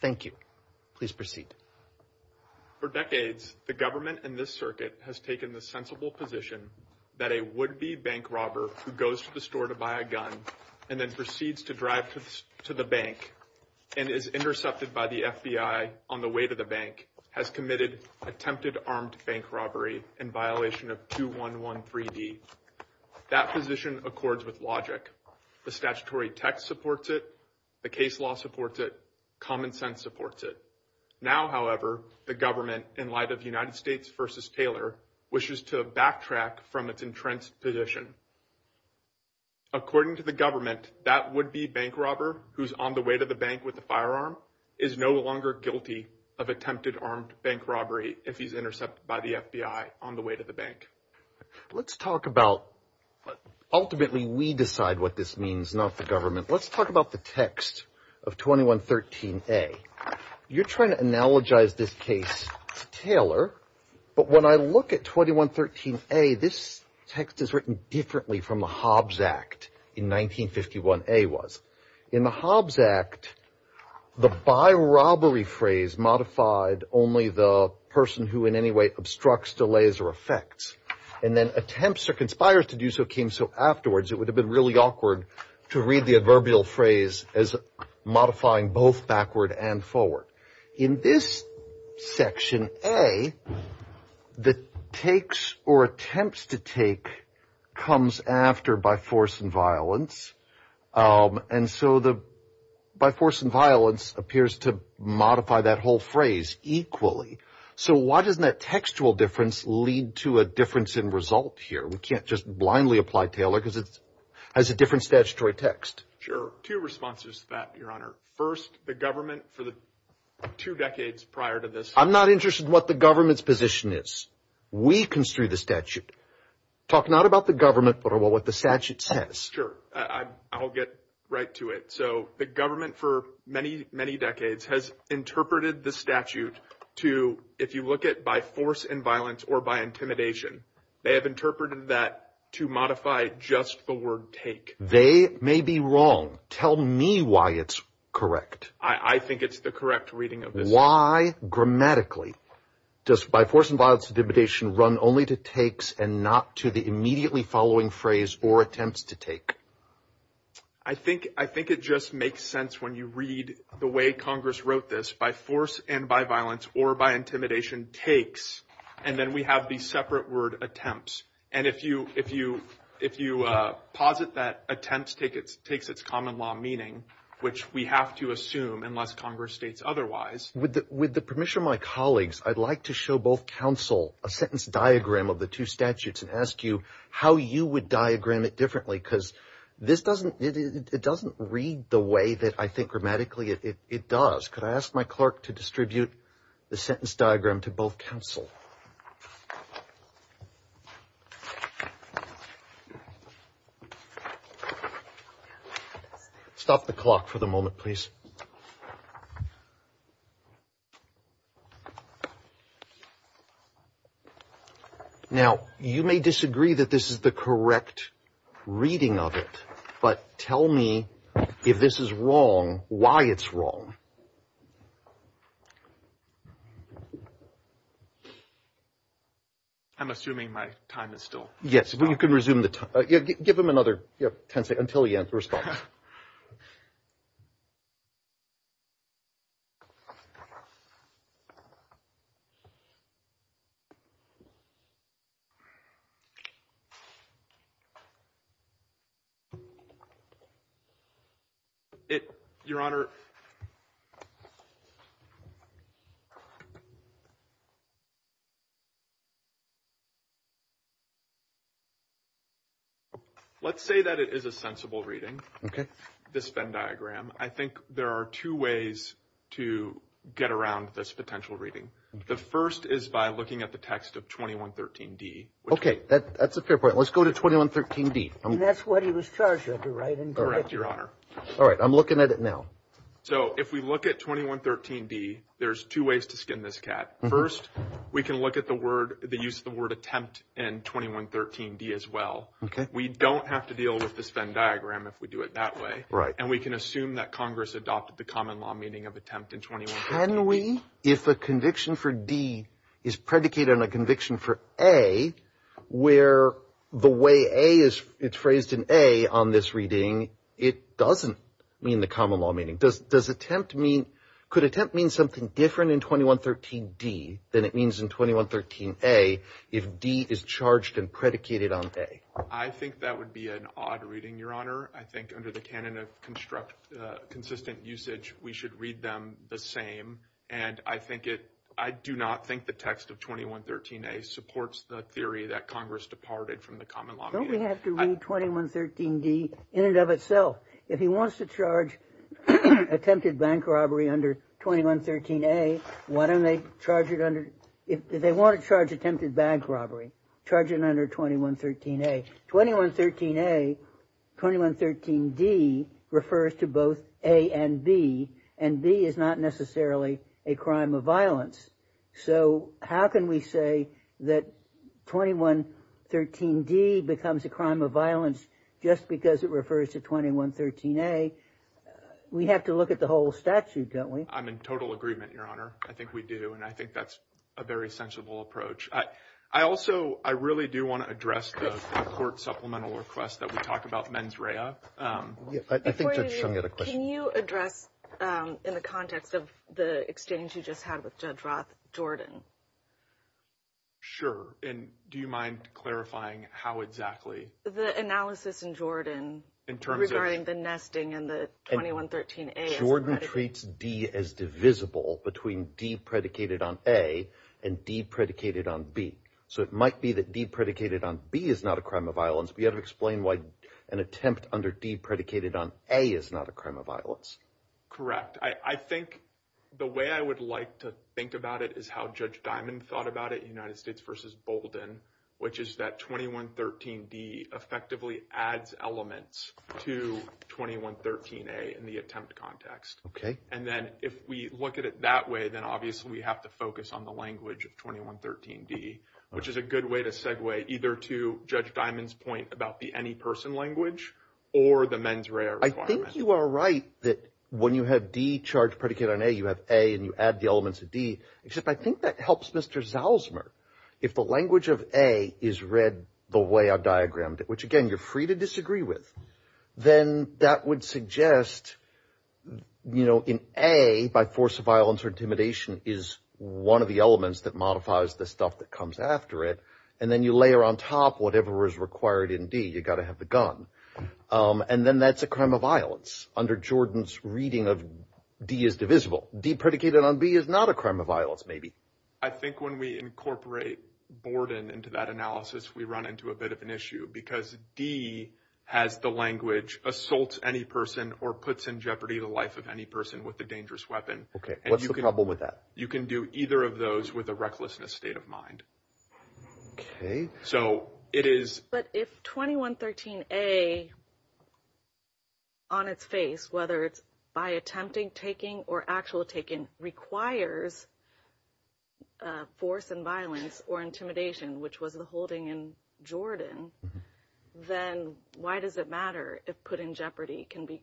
Thank you. Please proceed. For decades, the government in this circuit has taken the sensible position that a would-be bank robber who goes to the store to buy a gun and then proceeds to drive to the bank and is intercepted by the FBI on the way to the bank has committed attempted armed bank robbery in violation of 2113D. That position accords with logic. The statutory text supports it. The case law supports it. Common sense supports it. Now, however, the government, in light of United States v. Taylor, wishes to backtrack from its entrenched position. According to the government, that would-be bank robber who's on the way to the bank with a firearm is no longer guilty of attempted armed bank robbery if he's intercepted by the FBI on the way to the bank. Let's talk about, ultimately, we decide what this means, not the government. Let's talk about the text of 2113A. You're trying to analogize this case to Taylor, but when I look at 2113A, this text is written differently from the Hobbes Act in 1951A was. In the Hobbes Act, the by-robbery phrase modified only the person who in any way obstructs, delays, or affects. And then attempts or conspires to do so came so afterwards. It would have been really awkward to read the adverbial phrase as modifying both backward and forward. In this section A, the takes or attempts to take comes after by force and violence. And so the by force and violence appears to modify that whole phrase equally. So why doesn't that textual difference lead to a difference in result here? We can't just blindly apply Taylor because it has a different statutory text. Sure. Two responses to that, Your Honor. First, the government for the two decades prior to this- I'm not interested in what the government's position is. We construe the statute. Talk not about the government, but about what the statute says. Sure. I'll get right to it. So the government for many, many decades has interpreted the statute to, if you look at by force and violence or by intimidation, they have interpreted that to modify just the word take. They may be wrong. Tell me why it's correct. I think it's the correct reading of this. Why grammatically does by force and violence intimidation run only to takes and not to the immediately following phrase or attempts to take? I think it just makes sense when you read the way Congress wrote this. By force and by violence or by intimidation takes. And then we have the separate word attempts. And if you posit that attempts takes its common law meaning, which we have to assume unless Congress states otherwise- With the permission of my colleagues, I'd like to show both counsel a sentence diagram of the two statutes and ask you how you would diagram it differently because this doesn't- it doesn't read the way that I think grammatically it does. Could I ask my clerk to distribute the sentence diagram to both counsel? Stop the clock for the moment, please. Now, you may disagree that this is the correct reading of it, but tell me if this is wrong, why it's wrong. I'm assuming my time is still- Yes, you can resume the time. Give him another ten seconds until he answers the question. Your Honor, let's say that it is a sensible reading. Okay. This Venn diagram, I think there are two ways to get around this potential reading. The first is by looking at the text of 2113D. That's a fair point. Let's go to 2113D. And that's what he was charged with, right? Correct, Your Honor. All right. I'm looking at it now. So if we look at 2113D, there's two ways to skin this cat. First, we can look at the word- the use of the word attempt in 2113D as well. Okay. We don't have to deal with this Venn diagram if we do it that way. And we can assume that Congress adopted the common law meaning of attempt in 2113D. Can we, if a conviction for D is predicated on a conviction for A, where the way A is- it's phrased in A on this reading, it doesn't mean the common law meaning. Does attempt mean- could attempt mean something different in 2113D than it means in 2113A if D is charged and predicated on A? I think that would be an odd reading, Your Honor. I think under the canon of consistent usage, we should read them the same. And I think it- I do not think the text of 2113A supports the theory that Congress departed from the common law meaning. Don't we have to read 2113D in and of itself? If he wants to charge attempted bank robbery under 2113A, why don't they charge it under- if they want to charge attempted bank robbery, charge it under 2113A. 2113A- 2113D refers to both A and B, and B is not necessarily a crime of violence. So how can we say that 2113D becomes a crime of violence just because it refers to 2113A? We have to look at the whole statute, don't we? I'm in total agreement, Your Honor. I think we do, and I think that's a very sensible approach. I also- I really do want to address the court supplemental request that we talk about mens rea. Before you do, can you address in the context of the exchange you just had with Judge Roth, Jordan? Sure, and do you mind clarifying how exactly- The analysis in Jordan regarding the nesting and the 2113A- Jordan treats D as divisible between D predicated on A and D predicated on B. So it might be that D predicated on B is not a crime of violence. Do you have to explain why an attempt under D predicated on A is not a crime of violence? Correct. I think the way I would like to think about it is how Judge Diamond thought about it in United States v. Bolden, which is that 2113D effectively adds elements to 2113A in the attempt context. Okay. And then if we look at it that way, then obviously we have to focus on the language of 2113D, which is a good way to segue either to Judge Diamond's point about the any person language or the mens rea requirement. I think you are right that when you have D charged predicated on A, you have A and you add the elements of D, except I think that helps Mr. Zalzmer. If the language of A is read the way I diagrammed it, which, again, you're free to disagree with, then that would suggest, you know, in A, by force of violence or intimidation, is one of the elements that modifies the stuff that comes after it. And then you layer on top whatever is required in D. You've got to have the gun. And then that's a crime of violence. Under Jordan's reading of D is divisible. D predicated on B is not a crime of violence, maybe. I think when we incorporate Borden into that analysis, we run into a bit of an issue because D has the language assault any person or puts in jeopardy the life of any person with a dangerous weapon. Okay, what's the problem with that? You can do either of those with a recklessness state of mind. Okay. So it is. But if 2113A, on its face, whether it's by attempting, taking, or actual taking, requires force and violence or intimidation, which was the holding in Jordan, then why does it matter if put in jeopardy can be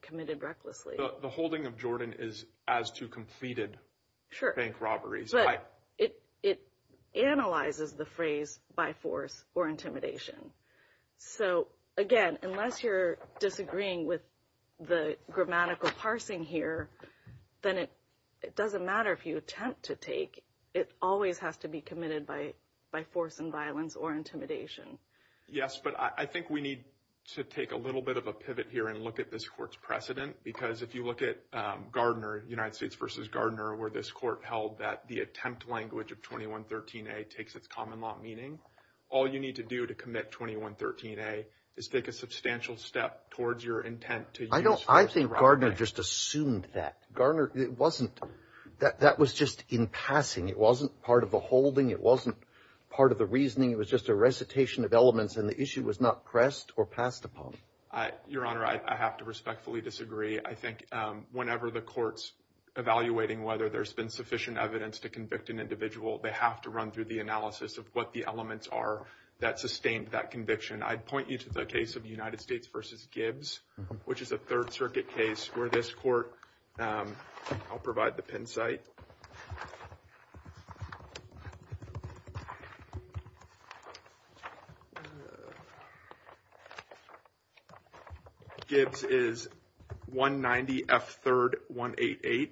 committed recklessly? The holding of Jordan is as to completed bank robberies. But it analyzes the phrase by force or intimidation. So, again, unless you're disagreeing with the grammatical parsing here, then it doesn't matter if you attempt to take. It always has to be committed by force and violence or intimidation. Yes, but I think we need to take a little bit of a pivot here and look at this court's precedent because if you look at Gardner, United States v. Gardner, where this court held that the attempt language of 2113A takes its common law meaning, all you need to do to commit 2113A is take a substantial step towards your intent to use force. I think Gardner just assumed that. Gardner, it wasn't. That was just in passing. It wasn't part of the holding. It wasn't part of the reasoning. It was just a recitation of elements, and the issue was not pressed or passed upon. Your Honor, I have to respectfully disagree. I think whenever the court's evaluating whether there's been sufficient evidence to convict an individual, they have to run through the analysis of what the elements are that sustained that conviction. I'd point you to the case of United States v. Gibbs, which is a Third Circuit case where this court, I'll provide the pin site. Gibbs is 190F3RD188.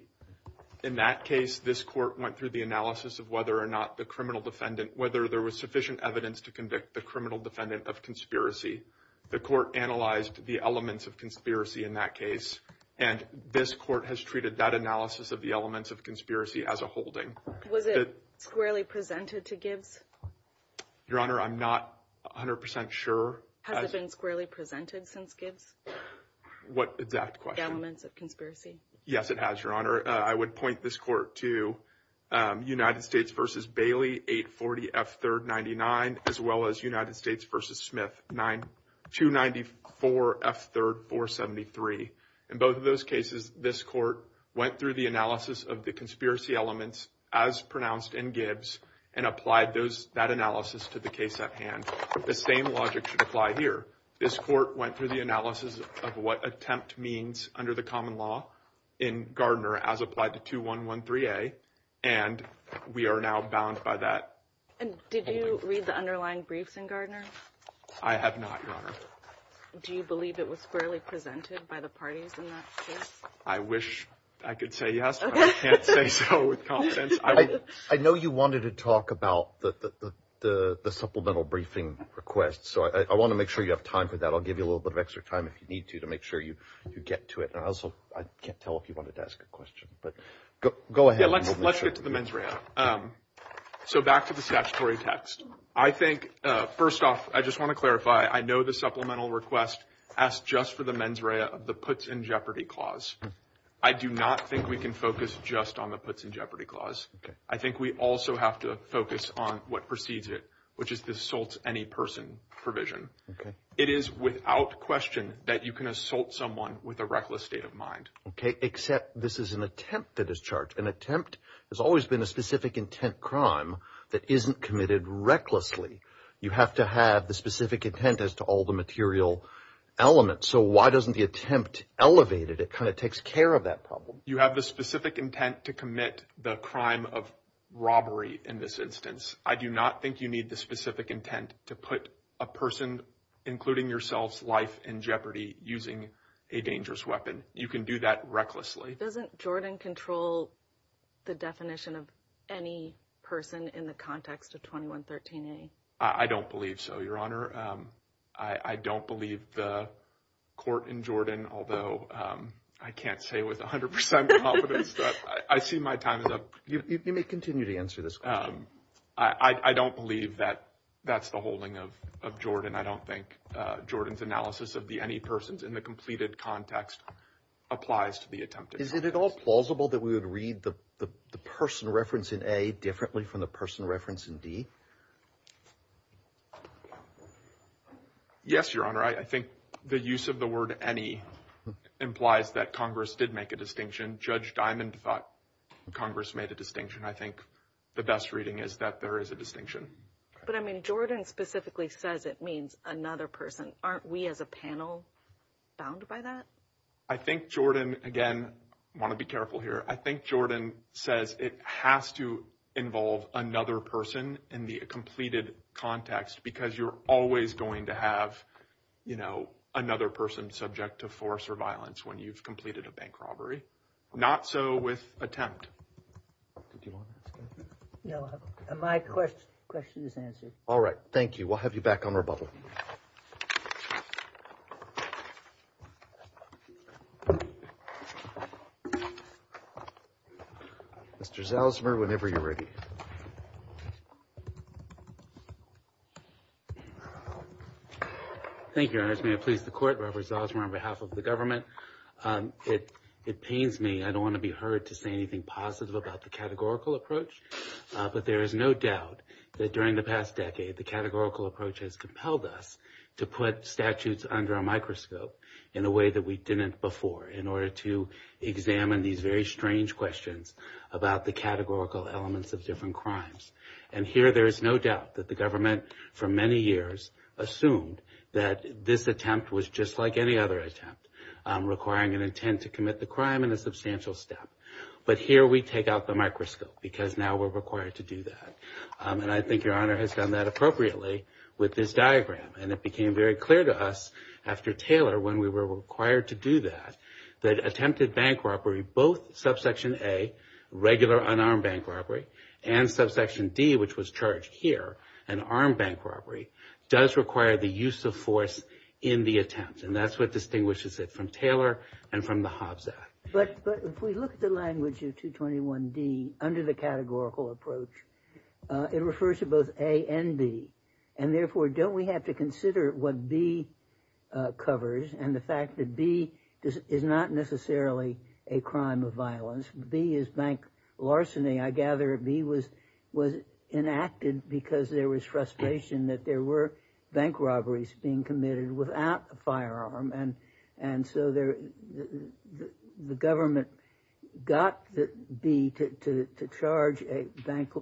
In that case, this court went through the analysis of whether or not the criminal defendant, whether there was sufficient evidence to convict the criminal defendant of conspiracy. The court analyzed the elements of conspiracy in that case, and this court has treated that analysis of the elements of conspiracy as a holding. Was it squarely presented to Gibbs? Your Honor, I'm not 100% sure. Has it been squarely presented since Gibbs? What exact question? The elements of conspiracy. Yes, it has, Your Honor. I would point this court to United States v. Bailey, 840F3RD99, as well as United States v. Smith, 294F3RD473. In both of those cases, this court went through the analysis of the conspiracy elements as pronounced in Gibbs and applied that analysis to the case at hand. The same logic should apply here. This court went through the analysis of what attempt means under the common law in Gardner as applied to 2113A, and we are now bound by that. Did you read the underlying briefs in Gardner? I have not, Your Honor. Do you believe it was squarely presented by the parties in that case? I wish I could say yes, but I can't say so with confidence. I know you wanted to talk about the supplemental briefing request, so I want to make sure you have time for that. I'll give you a little bit of extra time if you need to to make sure you get to it. And also, I can't tell if you wanted to ask a question, but go ahead. Let's get to the mens rea. So back to the statutory text. I think, first off, I just want to clarify, I know the supplemental request asked just for the mens rea of the puts in jeopardy clause. I do not think we can focus just on the puts in jeopardy clause. I think we also have to focus on what precedes it, which is the assaults any person provision. It is without question that you can assault someone with a reckless state of mind. Okay, except this is an attempt that is charged. An attempt has always been a specific intent crime that isn't committed recklessly. You have to have the specific intent as to all the material elements. So why doesn't the attempt elevate it? It kind of takes care of that problem. You have the specific intent to commit the crime of robbery in this instance. I do not think you need the specific intent to put a person, including yourselves, life in jeopardy using a dangerous weapon. You can do that recklessly. Doesn't Jordan control the definition of any person in the context of 2113A? I don't believe so, Your Honor. I don't believe the court in Jordan, although I can't say with 100% confidence that I see my time is up. You may continue to answer this question. I don't believe that that's the holding of Jordan. I don't think Jordan's analysis of the any persons in the completed context applies to the attempted. Is it at all plausible that we would read the person reference in A differently from the person reference in D? Yes, Your Honor. I think the use of the word any implies that Congress did make a distinction. Judge Diamond thought Congress made a distinction. I think the best reading is that there is a distinction. But, I mean, Jordan specifically says it means another person. Aren't we as a panel bound by that? I think Jordan, again, I want to be careful here. I think Jordan says it has to involve another person in the completed context because you're always going to have, you know, another person subject to force or violence when you've completed a bank robbery. Not so with attempt. My question is answered. All right. Thank you. We'll have you back on rebuttal. Mr. Zalzmer, whenever you're ready. Thank you, Your Honor. May it please the Court. Robert Zalzmer on behalf of the government. It pains me. I don't want to be heard to say anything positive about the categorical approach. But there is no doubt that during the past decade the categorical approach has compelled us to put statutes under a microscope in a way that we didn't before in order to examine these very strange questions about the categorical elements of different crimes. And here there is no doubt that the government for many years assumed that this attempt was just like any other attempt requiring an intent to commit the crime in a substantial step. But here we take out the microscope because now we're required to do that. And I think Your Honor has done that appropriately with this diagram. And it became very clear to us after Taylor when we were required to do that, that attempted bank robbery, both Subsection A, regular unarmed bank robbery, and Subsection D, which was charged here, an armed bank robbery, does require the use of force in the attempt. And that's what distinguishes it from Taylor and from the Hobbs Act. But if we look at the language of 221D under the categorical approach, it refers to both A and B. And therefore, don't we have to consider what B covers and the fact that B is not necessarily a crime of violence. B is bank larceny. I gather B was enacted because there was frustration that there were bank robberies being committed without a firearm. And so the government got B to charge a bank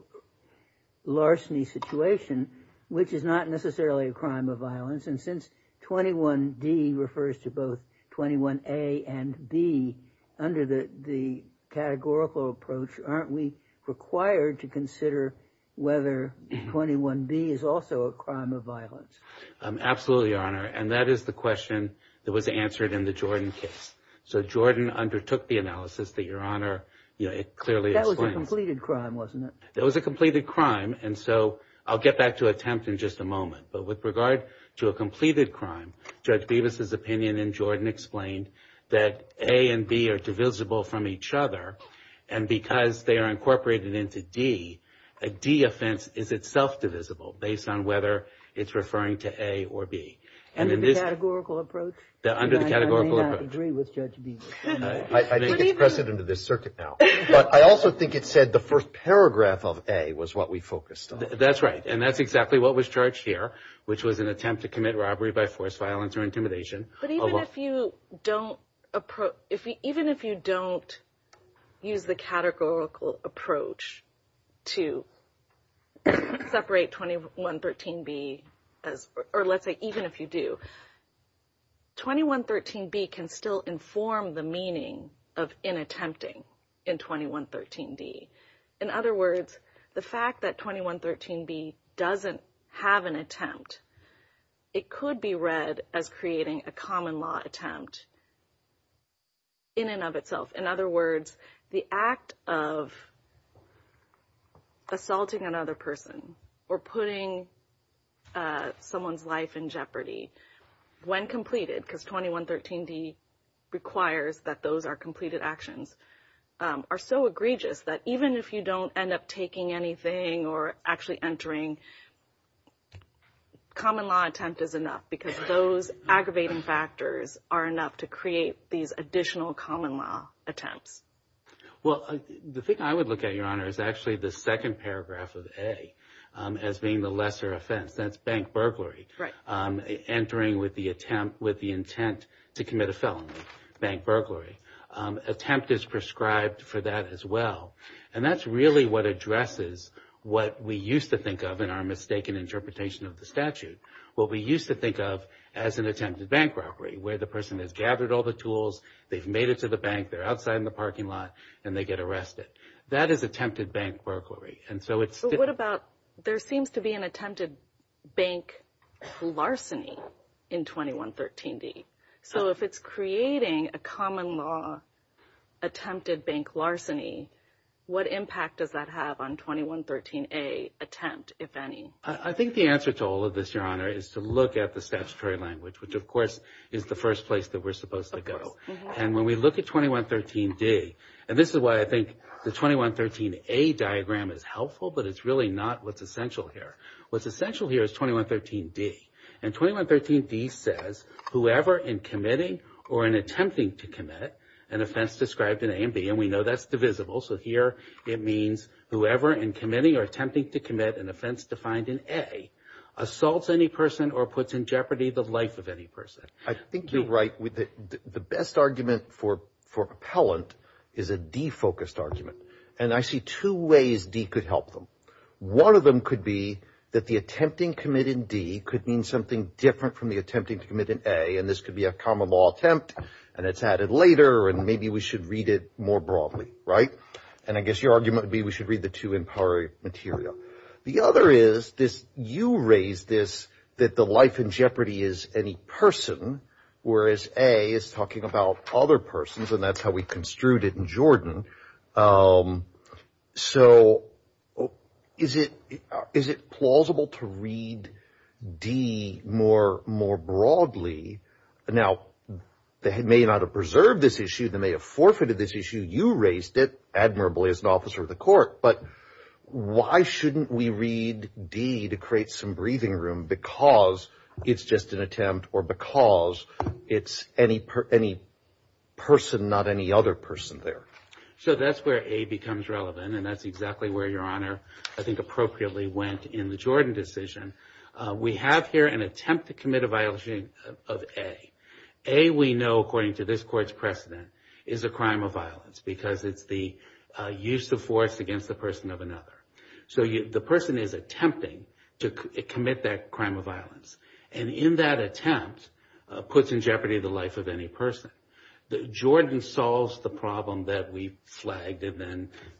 larceny situation, which is not necessarily a crime of violence. And since 221D refers to both 221A and B under the categorical approach, aren't we required to consider whether 221B is also a crime of violence? Absolutely, Your Honor. And that is the question that was answered in the Jordan case. So Jordan undertook the analysis that Your Honor clearly explained. That was a completed crime, wasn't it? That was a completed crime. And so I'll get back to attempt in just a moment. But with regard to a completed crime, Judge Bevis' opinion in Jordan explained that A and B are divisible from each other. And because they are incorporated into D, a D offense is itself divisible based on whether it's referring to A or B. Under the categorical approach? Under the categorical approach. I may not agree with Judge Bevis. I think it's precedent of this circuit now. But I also think it said the first paragraph of A was what we focused on. That's right. And that's exactly what was charged here, which was an attempt to commit robbery by force, violence, or intimidation. But even if you don't use the categorical approach to separate 2113B, or let's say even if you do, 2113B can still inform the meaning of inattempting in 2113D. In other words, the fact that 2113B doesn't have an attempt, it could be read as creating a common law attempt in and of itself. In other words, the act of assaulting another person or putting someone's life in jeopardy when completed, because 2113D requires that those are completed actions, are so egregious that even if you don't end up taking anything or actually entering, common law attempt is enough because those aggravating factors are enough to create these additional common law attempts. Well, the thing I would look at, Your Honor, is actually the second paragraph of A as being the lesser offense. That's bank burglary. Entering with the intent to commit a felony, bank burglary. Attempt is prescribed for that as well. And that's really what addresses what we used to think of in our mistaken interpretation of the statute. What we used to think of as an attempted bank burglary, where the person has gathered all the tools, they've made it to the bank, they're outside in the parking lot, and they get arrested. That is attempted bank burglary. So what about, there seems to be an attempted bank larceny in 2113D. So if it's creating a common law attempted bank larceny, what impact does that have on 2113A attempt, if any? I think the answer to all of this, Your Honor, is to look at the statutory language, which of course is the first place that we're supposed to go. And when we look at 2113D, and this is why I think the 2113A diagram is helpful, but it's really not what's essential here. What's essential here is 2113D. And 2113D says, whoever in committing or in attempting to commit an offense described in A and B, and we know that's divisible. So here it means whoever in committing or attempting to commit an offense defined in A, assaults any person or puts in jeopardy the life of any person. I think you're right. The best argument for appellant is a D-focused argument. And I see two ways D could help them. One of them could be that the attempting commit in D could mean something different from the attempting to commit in A, and this could be a common law attempt, and it's added later, and maybe we should read it more broadly, right? And I guess your argument would be we should read the two in prior material. The other is this, you raised this, that the life in jeopardy is any person, whereas A is talking about other persons, and that's how we construed it in Jordan. So is it plausible to read D more broadly? Now, they may not have preserved this issue. They may have forfeited this issue. You raised it, admirably, as an officer of the court. But why shouldn't we read D to create some breathing room because it's just an attempt or because it's any person, not any other person there? So that's where A becomes relevant, and that's exactly where Your Honor, I think, appropriately went in the Jordan decision. We have here an attempt to commit a violation of A. A, we know, according to this court's precedent, is a crime of violence because it's the use of force against the person of another. So the person is attempting to commit that crime of violence, and in that attempt puts in jeopardy the life of any person. Jordan solves the problem that we flagged and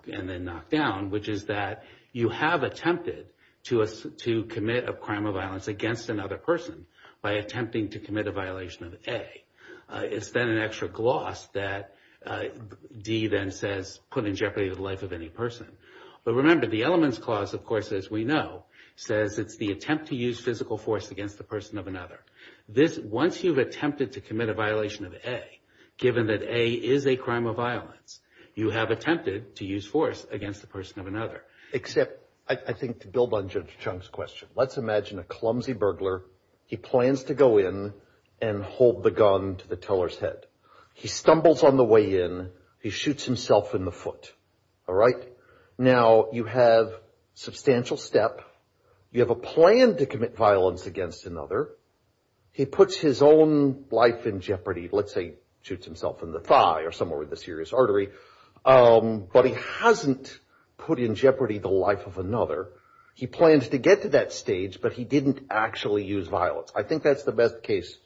then knocked down, which is that you have attempted to commit a crime of violence against another person by attempting to commit a violation of A. It's then an extra gloss that D then says put in jeopardy the life of any person. But remember, the elements clause, of course, as we know, says it's the attempt to use physical force against the person of another. This, once you've attempted to commit a violation of A, given that A is a crime of violence, you have attempted to use force against the person of another. Except, I think, to build on Judge Chung's question, let's imagine a clumsy burglar. He plans to go in and hold the gun to the teller's head. He stumbles on the way in. He shoots himself in the foot. All right? Now, you have substantial step. You have a plan to commit violence against another. He puts his own life in jeopardy. Let's say he shoots himself in the thigh or somewhere with a serious artery. But he hasn't put in jeopardy the life of another. He plans to get to that stage, but he didn't actually use violence. I think that's the best case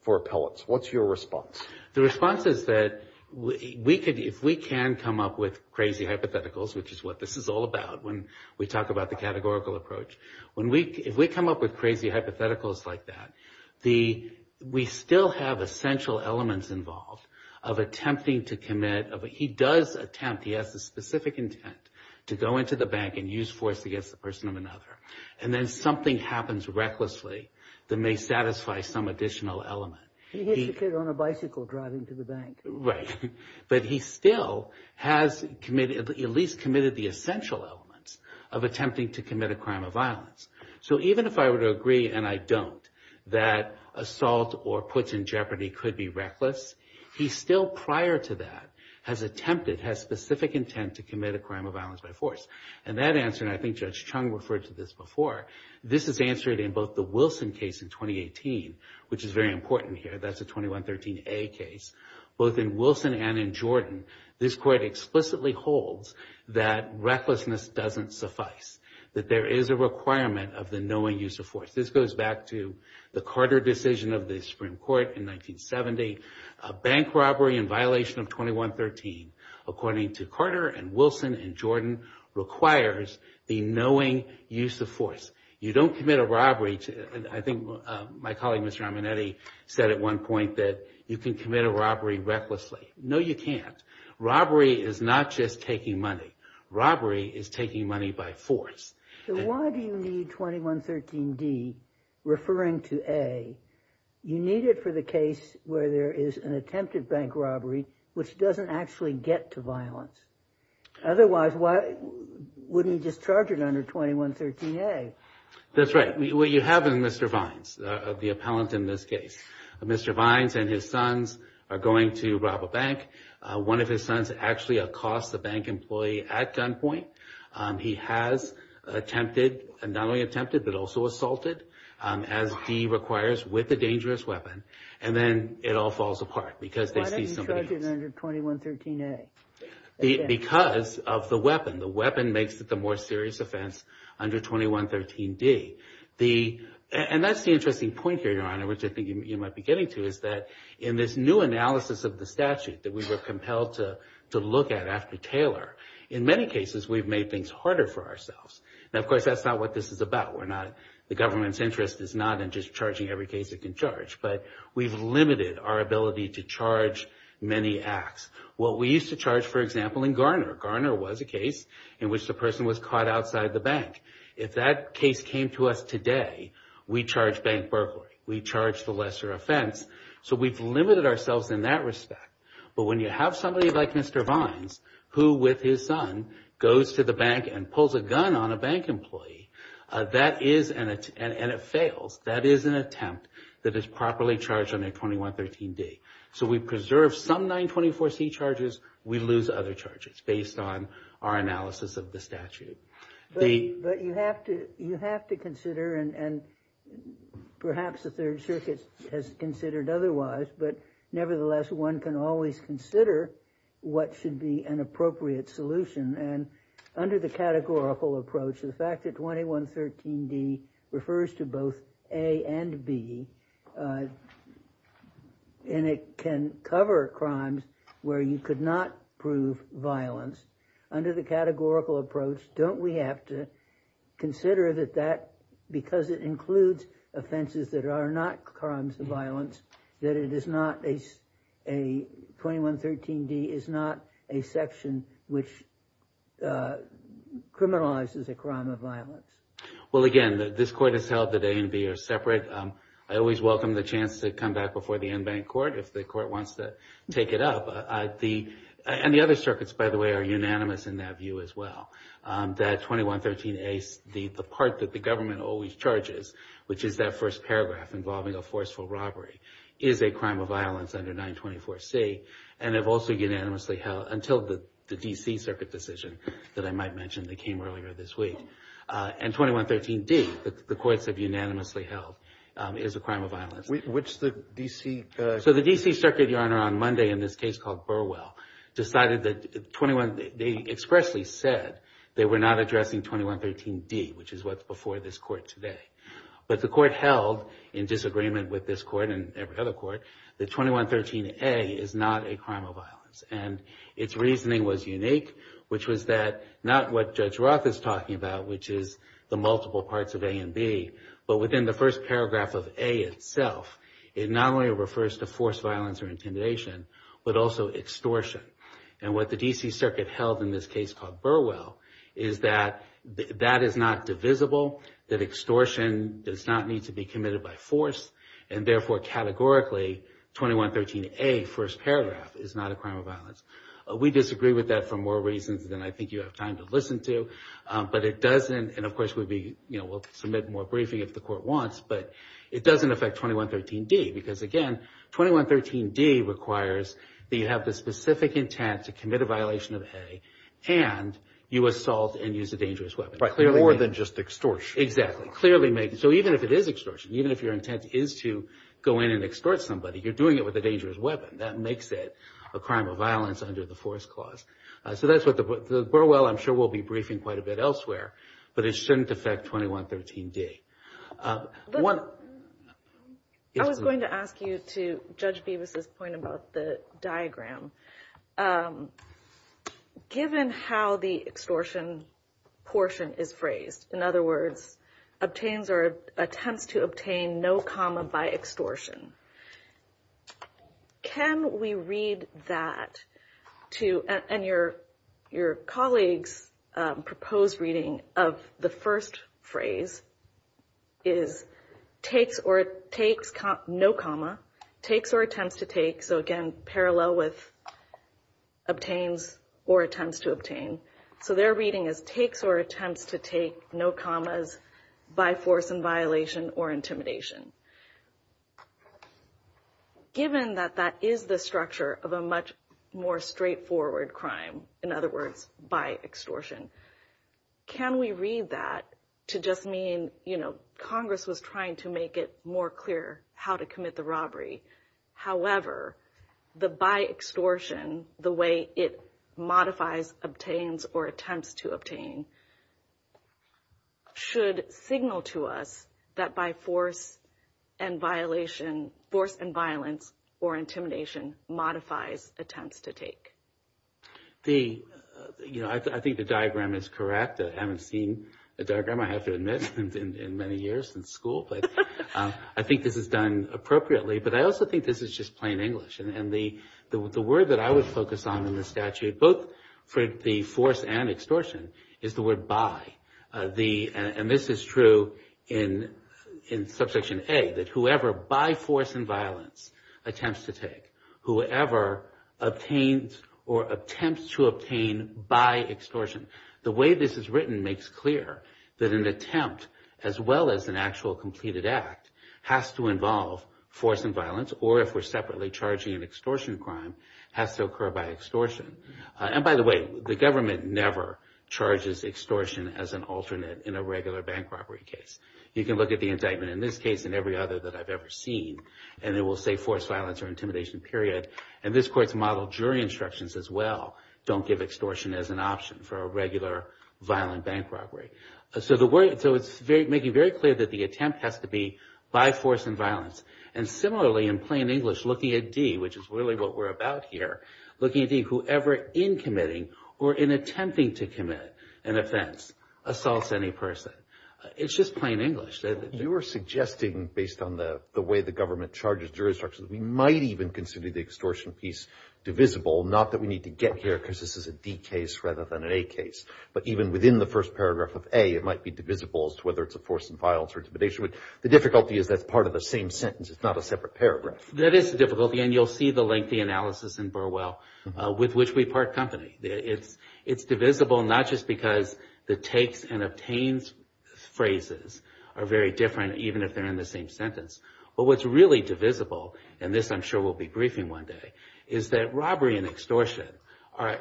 for appellants. What's your response? The response is that if we can come up with crazy hypotheticals, which is what this is all about when we talk about the categorical approach, if we come up with crazy hypotheticals like that, we still have essential elements involved of attempting to commit. He does attempt. He has the specific intent to go into the bank and use force against the person of another. And then something happens recklessly that may satisfy some additional element. He hits a kid on a bicycle driving to the bank. But he still has at least committed the essential elements of attempting to commit a crime of violence. So even if I were to agree, and I don't, that assault or puts in jeopardy could be reckless, he still prior to that has attempted, has specific intent to commit a crime of violence by force. And that answer, and I think Judge Chung referred to this before, this is answered in both the Wilson case in 2018, which is very important here. That's a 2113A case. Both in Wilson and in Jordan, this court explicitly holds that recklessness doesn't suffice, that there is a requirement of the knowing use of force. This goes back to the Carter decision of the Supreme Court in 1970, a bank robbery in violation of 2113, according to Carter and Wilson and Jordan, requires the knowing use of force. You don't commit a robbery. I think my colleague, Mr. Arminetti, said at one point that you can commit a robbery recklessly. No, you can't. Robbery is not just taking money. Robbery is taking money by force. So why do you need 2113D referring to A? You need it for the case where there is an attempted bank robbery, which doesn't actually get to violence. Otherwise, why wouldn't you just charge it under 2113A? That's right. What you have in Mr. Vines, the appellant in this case, Mr. Vines and his sons are going to rob a bank. One of his sons actually accosts the bank employee at gunpoint. He has attempted, not only attempted, but also assaulted, as D requires, with a dangerous weapon, and then it all falls apart because they see somebody else. Why don't you charge it under 2113A? Because of the weapon. The weapon makes it the more serious offense under 2113D. And that's the interesting point here, Your Honor, which I think you might be getting to, is that in this new analysis of the statute that we were compelled to look at after Taylor, in many cases we've made things harder for ourselves. Now, of course, that's not what this is about. The government's interest is not in just charging every case it can charge, but we've limited our ability to charge many acts. Well, we used to charge, for example, in Garner. Garner was a case in which the person was caught outside the bank. If that case came to us today, we'd charge bank burglary. We'd charge the lesser offense. So we've limited ourselves in that respect. But when you have somebody like Mr. Vines, who, with his son, goes to the bank and pulls a gun on a bank employee, that is an attempt, and it fails, that is an attempt that is properly charged under 2113D. So we preserve some 924C charges. We lose other charges based on our analysis of the statute. But you have to consider, and perhaps the Third Circuit has considered otherwise, but nevertheless, one can always consider what should be an appropriate solution. And under the categorical approach, the fact that 2113D refers to both A and B and it can cover crimes where you could not prove violence, under the categorical approach, don't we have to consider that that, because it includes offenses that are not crimes of violence, that 2113D is not a section which criminalizes a crime of violence? Well, again, this Court has held that A and B are separate. I always welcome the chance to come back before the en banc Court if the Court wants to take it up. And the other circuits, by the way, are unanimous in that view as well, that 2113A, the part that the government always charges, which is that first paragraph involving a forceful robbery, is a crime of violence under 924C, and have also unanimously held until the D.C. Circuit decision that I might mention that came earlier this week. And 2113D, the courts have unanimously held, is a crime of violence. Which the D.C. So the D.C. Circuit, Your Honor, on Monday in this case called Burwell, decided that 21, they expressly said they were not addressing 2113D, which is what's before this Court today. But the Court held, in disagreement with this Court and every other Court, that 2113A is not a crime of violence. And its reasoning was unique, which was that not what Judge Roth is talking about, which is the multiple parts of A and B, but within the first paragraph of A itself, it not only refers to forced violence or intimidation, but also extortion. And what the D.C. Circuit held in this case called Burwell is that that is not divisible, that extortion does not need to be committed by force, and therefore, categorically, 2113A, first paragraph, is not a crime of violence. We disagree with that for more reasons than I think you have time to listen to, but it doesn't, and of course we'll submit more briefing if the Court wants, but it doesn't affect 2113D because, again, 2113D requires that you have the specific intent to commit a violation of A and you assault and use a dangerous weapon. Right, more than just extortion. Exactly. So even if it is extortion, even if your intent is to go in and extort somebody, you're doing it with a dangerous weapon. That makes it a crime of violence under the force clause. So that's what the Burwell, I'm sure we'll be briefing quite a bit elsewhere, but it shouldn't affect 2113D. I was going to ask you to Judge Bevis' point about the diagram. Given how the extortion portion is phrased, in other words, attempts to obtain no comma by extortion, can we read that to, and your colleague's proposed reading of the first phrase is no comma, takes or attempts to take, so again, parallel with obtains or attempts to obtain. So their reading is takes or attempts to take no commas by force and violation or intimidation. Given that that is the structure of a much more straightforward crime, in other words, by extortion, can we read that to just mean, you know, how to commit the robbery. However, the by extortion, the way it modifies, obtains, or attempts to obtain, should signal to us that by force and violation, force and violence, or intimidation, modifies attempts to take. The, you know, I think the diagram is correct. I haven't seen the diagram, I have to admit, in many years in school, but I think this is done appropriately. But I also think this is just plain English. And the word that I would focus on in the statute, both for the force and extortion, is the word by. And this is true in Subsection A, that whoever by force and violence attempts to take, whoever obtains or attempts to obtain by extortion, the way this is written makes clear that an attempt, as well as an actual completed act, has to involve force and violence, or if we're separately charging an extortion crime, has to occur by extortion. And by the way, the government never charges extortion as an alternate in a regular bank robbery case. You can look at the indictment in this case and every other that I've ever seen, and it will say force violence or intimidation, period. And this court's model jury instructions as well don't give extortion as an option for a regular violent bank robbery. So it's making very clear that the attempt has to be by force and violence. And similarly, in plain English, looking at D, which is really what we're about here, looking at D, whoever in committing or in attempting to commit an offense assaults any person. It's just plain English. You are suggesting, based on the way the government charges jury instructions, we might even consider the extortion piece divisible, not that we need to get here because this is a D case rather than an A case. But even within the first paragraph of A, it might be divisible as to whether it's a force and violence or intimidation. The difficulty is that's part of the same sentence. It's not a separate paragraph. That is the difficulty, and you'll see the lengthy analysis in Burwell, with which we part company. It's divisible not just because the takes and obtains phrases are very different, even if they're in the same sentence. But what's really divisible, and this I'm sure we'll be briefing one day, is that robbery and extortion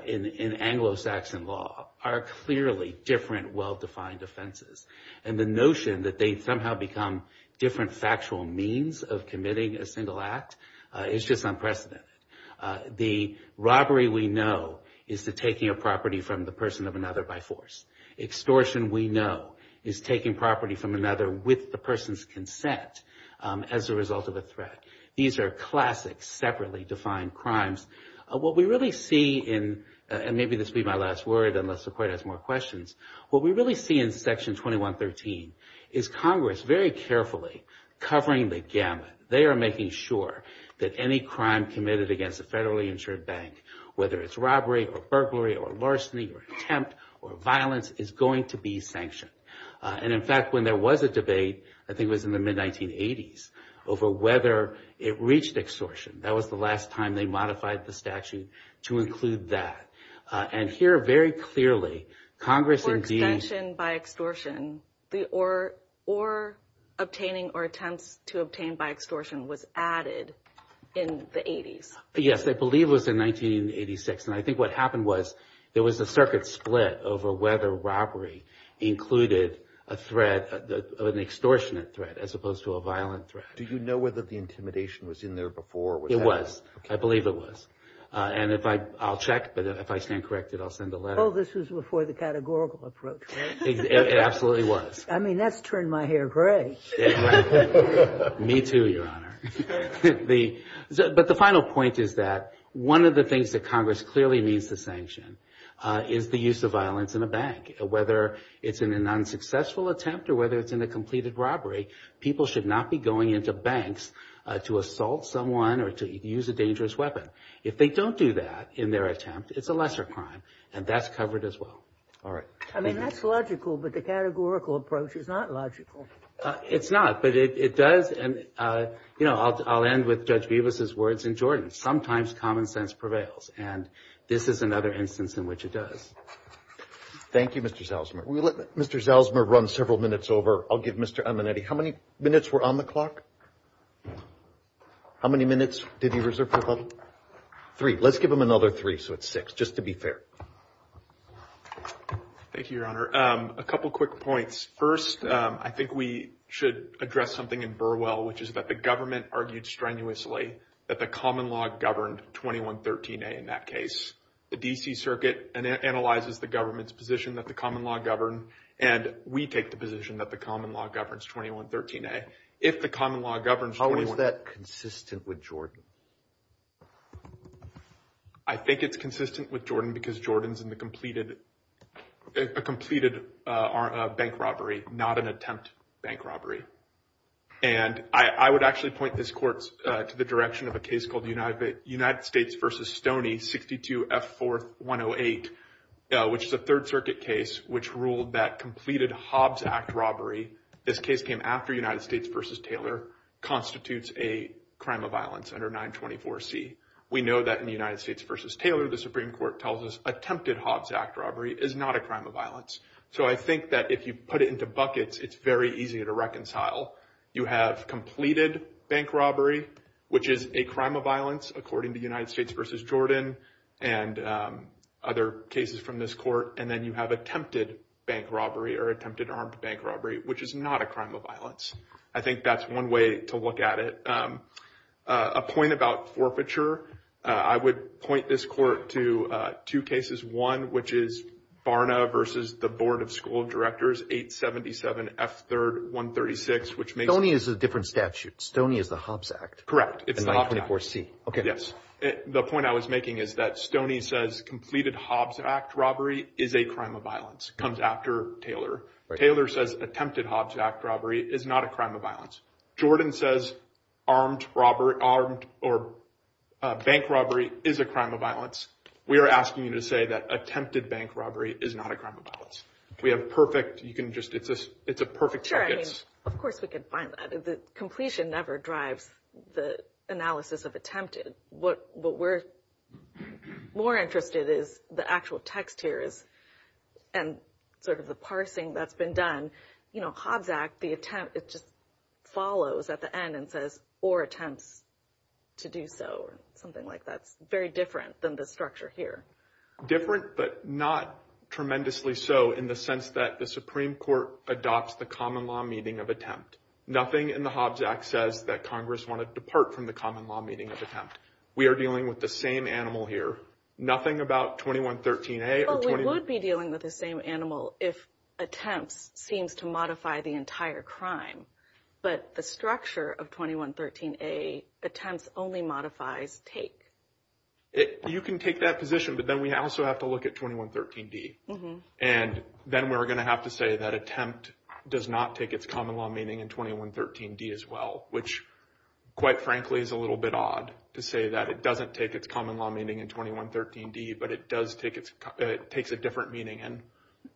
in Anglo-Saxon law are clearly different, well-defined offenses. And the notion that they somehow become different factual means of committing a single act is just unprecedented. The robbery we know is the taking of property from the person of another by force. Extortion we know is taking property from another with the person's consent as a result of a threat. These are classic separately defined crimes. What we really see in, and maybe this will be my last word unless the Court has more questions, what we really see in Section 2113 is Congress very carefully covering the gamut. They are making sure that any crime committed against a federally insured bank, whether it's robbery or burglary or larceny or attempt or violence, is going to be sanctioned. And, in fact, when there was a debate, I think it was in the mid-1980s, over whether it reached extortion, that was the last time they modified the statute to include that. And here, very clearly, Congress indeed. For extension by extortion, or obtaining or attempts to obtain by extortion was added in the 80s. Yes, I believe it was in 1986. And I think what happened was there was a circuit split over whether robbery included a threat, an extortionate threat as opposed to a violent threat. Do you know whether the intimidation was in there before? It was. I believe it was. And I'll check, but if I stand corrected, I'll send a letter. Oh, this was before the categorical approach, right? It absolutely was. I mean, that's turned my hair gray. Me too, Your Honor. But the final point is that one of the things that Congress clearly needs to sanction is the use of violence in a bank. Whether it's in an unsuccessful attempt or whether it's in a completed robbery, people should not be going into banks to assault someone or to use a dangerous weapon. If they don't do that in their attempt, it's a lesser crime, and that's covered as well. All right. I mean, that's logical, but the categorical approach is not logical. It's not, but it does. And, you know, I'll end with Judge Bevis' words in Jordan. Sometimes common sense prevails, and this is another instance in which it does. Thank you, Mr. Zalzmer. We'll let Mr. Zalzmer run several minutes over. I'll give Mr. Amanetti. How many minutes were on the clock? How many minutes did he reserve for the public? Three. Let's give him another three, so it's six, just to be fair. Thank you, Your Honor. A couple quick points. First, I think we should address something in Burwell, which is that the government argued strenuously that the common law governed 2113A in that case. The D.C. Circuit analyzes the government's position that the common law governed, and we take the position that the common law governs 2113A. If the common law governs 2113A. How is that consistent with Jordan? I think it's consistent with Jordan because Jordan is in the completed bank robbery, not an attempt bank robbery. And I would actually point this court to the direction of a case called United States v. Stoney, 62F4108, which is a Third Circuit case which ruled that completed Hobbs Act robbery, this case came after United States v. Taylor, constitutes a crime of violence under 924C. We know that in the United States v. Taylor, the Supreme Court tells us attempted Hobbs Act robbery is not a crime of violence. So I think that if you put it into buckets, it's very easy to reconcile. You have completed bank robbery, which is a crime of violence, according to United States v. Jordan and other cases from this court. And then you have attempted bank robbery or attempted armed bank robbery, which is not a crime of violence. I think that's one way to look at it. A point about forfeiture. I would point this court to two cases. One, which is Barna v. The Board of School Directors, 877F3136, which makes it- Stoney is a different statute. Stoney is the Hobbs Act. Correct. It's the Hobbs Act. In 924C. Yes. The point I was making is that Stoney says completed Hobbs Act robbery is a crime of violence, comes after Taylor. Taylor says attempted Hobbs Act robbery is not a crime of violence. Jordan says armed robbery or bank robbery is a crime of violence. We are asking you to say that attempted bank robbery is not a crime of violence. We have perfect-you can just-it's a perfect- Sure, I mean, of course we can find that. Completion never drives the analysis of attempted. What we're more interested in is the actual text here and sort of the parsing that's been done. You know, Hobbs Act, the attempt, it just follows at the end and says, or attempts to do so or something like that. It's very different than the structure here. Different but not tremendously so in the sense that the Supreme Court adopts the common law meeting of attempt. Nothing in the Hobbs Act says that Congress wanted to depart from the common law meeting of attempt. We are dealing with the same animal here. Nothing about 2113A or 21- Well, we would be dealing with the same animal if attempts seems to modify the entire crime. But the structure of 2113A, attempts only modifies take. You can take that position, but then we also have to look at 2113D. And then we're going to have to say that attempt does not take its common law meeting in 2113D as well, which quite frankly is a little bit odd to say that it doesn't take its common law meeting in 2113D, but it does take its-it takes a different meeting in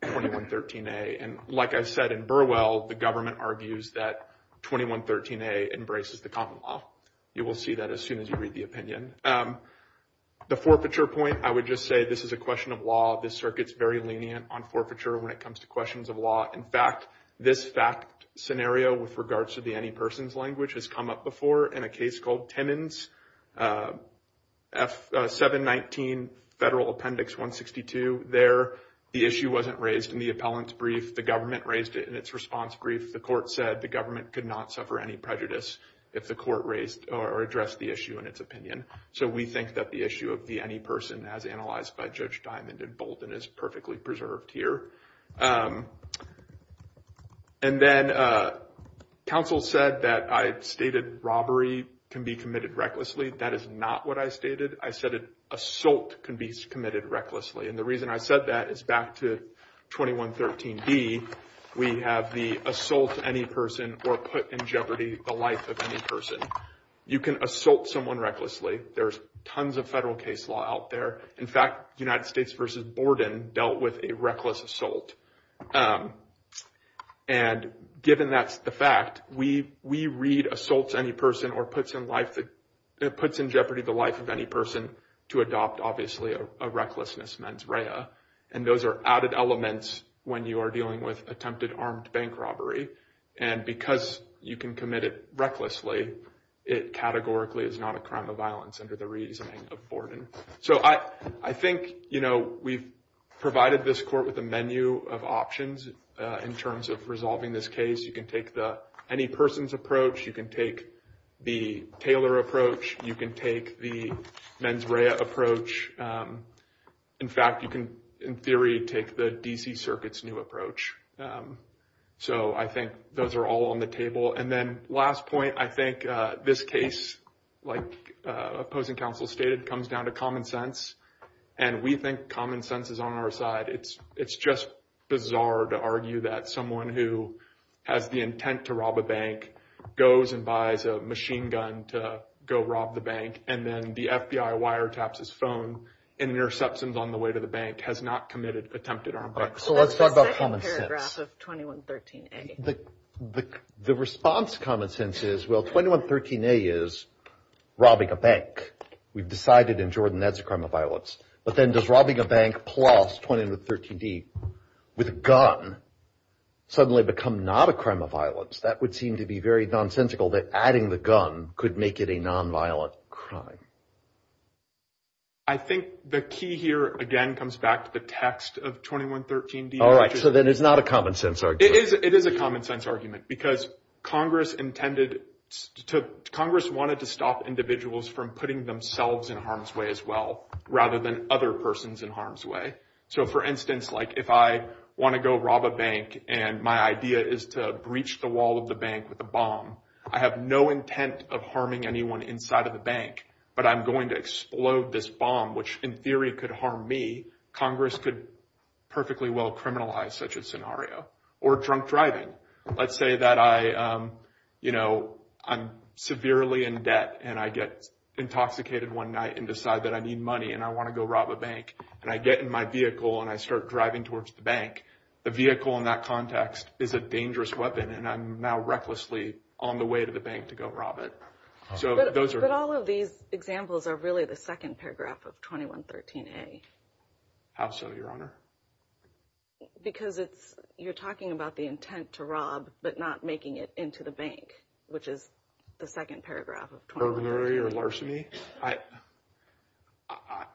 2113A. And like I said in Burwell, the government argues that 2113A embraces the common law. You will see that as soon as you read the opinion. The forfeiture point, I would just say this is a question of law. This circuit's very lenient on forfeiture when it comes to questions of law. In fact, this fact scenario with regards to the any person's language has come up before in a case called Timmons, F-719 Federal Appendix 162. There, the issue wasn't raised in the appellant's brief. The government raised it in its response brief. The court said the government could not suffer any prejudice if the court raised or addressed the issue in its opinion. So we think that the issue of the any person as analyzed by Judge Diamond and Bolden is perfectly preserved here. And then counsel said that I stated robbery can be committed recklessly. That is not what I stated. I said assault can be committed recklessly. And the reason I said that is back to 2113B, we have the assault any person or put in jeopardy the life of any person. You can assault someone recklessly. There's tons of federal case law out there. In fact, United States versus Borden dealt with a reckless assault. And given that's the fact, we read assaults any person or puts in jeopardy the life of any person to adopt, obviously, a recklessness mens rea. And those are added elements when you are dealing with attempted armed bank robbery. And because you can commit it recklessly, it categorically is not a crime of violence under the reasoning of Borden. So I think, you know, we've provided this court with a menu of options in terms of resolving this case. You can take the any person's approach. You can take the Taylor approach. You can take the mens rea approach. In fact, you can, in theory, take the D.C. Circuit's new approach. So I think those are all on the table. And then last point, I think this case, like opposing counsel stated, comes down to common sense. And we think common sense is on our side. It's just bizarre to argue that someone who has the intent to rob a bank goes and buys a machine gun to go rob the bank. And then the FBI wiretaps his phone in interceptions on the way to the bank has not committed attempted armed bank robbery. So let's talk about the second paragraph of 2113A. The response to common sense is, well, 2113A is robbing a bank. We've decided in Jordan that's a crime of violence. But then does robbing a bank plus 2113D with a gun suddenly become not a crime of violence? That would seem to be very nonsensical that adding the gun could make it a nonviolent crime. I think the key here, again, comes back to the text of 2113D. All right, so then it's not a common sense argument. It is a common sense argument because Congress intended to – Congress wanted to stop individuals from putting themselves in harm's way as well rather than other persons in harm's way. So, for instance, like if I want to go rob a bank and my idea is to breach the wall of the bank with a bomb, I have no intent of harming anyone inside of the bank, but I'm going to explode this bomb, which in theory could harm me. Congress could perfectly well criminalize such a scenario. Or drunk driving. Let's say that I'm severely in debt and I get intoxicated one night and decide that I need money and I want to go rob a bank. And I get in my vehicle and I start driving towards the bank. The vehicle in that context is a dangerous weapon and I'm now recklessly on the way to the bank to go rob it. But all of these examples are really the second paragraph of 2113A. How so, Your Honor? Because it's – you're talking about the intent to rob but not making it into the bank, which is the second paragraph of 2113A.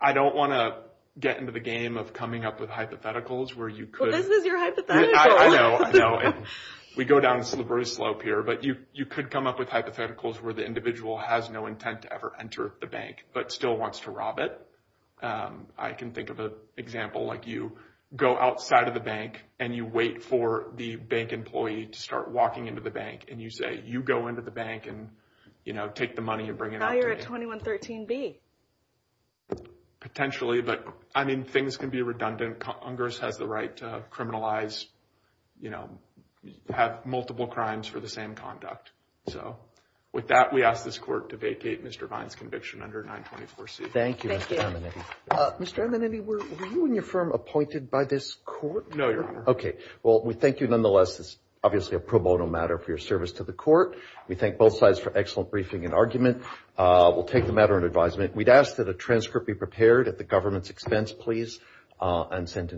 I don't want to get into the game of coming up with hypotheticals where you could – Well, this is your hypothetical. I know, I know. We go down a slippery slope here. But you could come up with hypotheticals where the individual has no intent to ever enter the bank but still wants to rob it. I can think of an example like you go outside of the bank and you wait for the bank employee to start walking into the bank. And you say, you go into the bank and, you know, take the money and bring it out to me. Now you're at 2113B. Potentially, but, I mean, things can be redundant. Congress has the right to criminalize, you know, have multiple crimes for the same conduct. So with that, we ask this Court to vacate Mr. Vine's conviction under 924C. Thank you, Mr. Amanati. Mr. Amanati, were you and your firm appointed by this Court? No, Your Honor. Okay. Well, we thank you nonetheless. This is obviously a pro bono matter for your service to the Court. We thank both sides for excellent briefing and argument. We'll take the matter into advisement. We'd ask that a transcript be prepared at the government's expense, please, and sent in to the Court.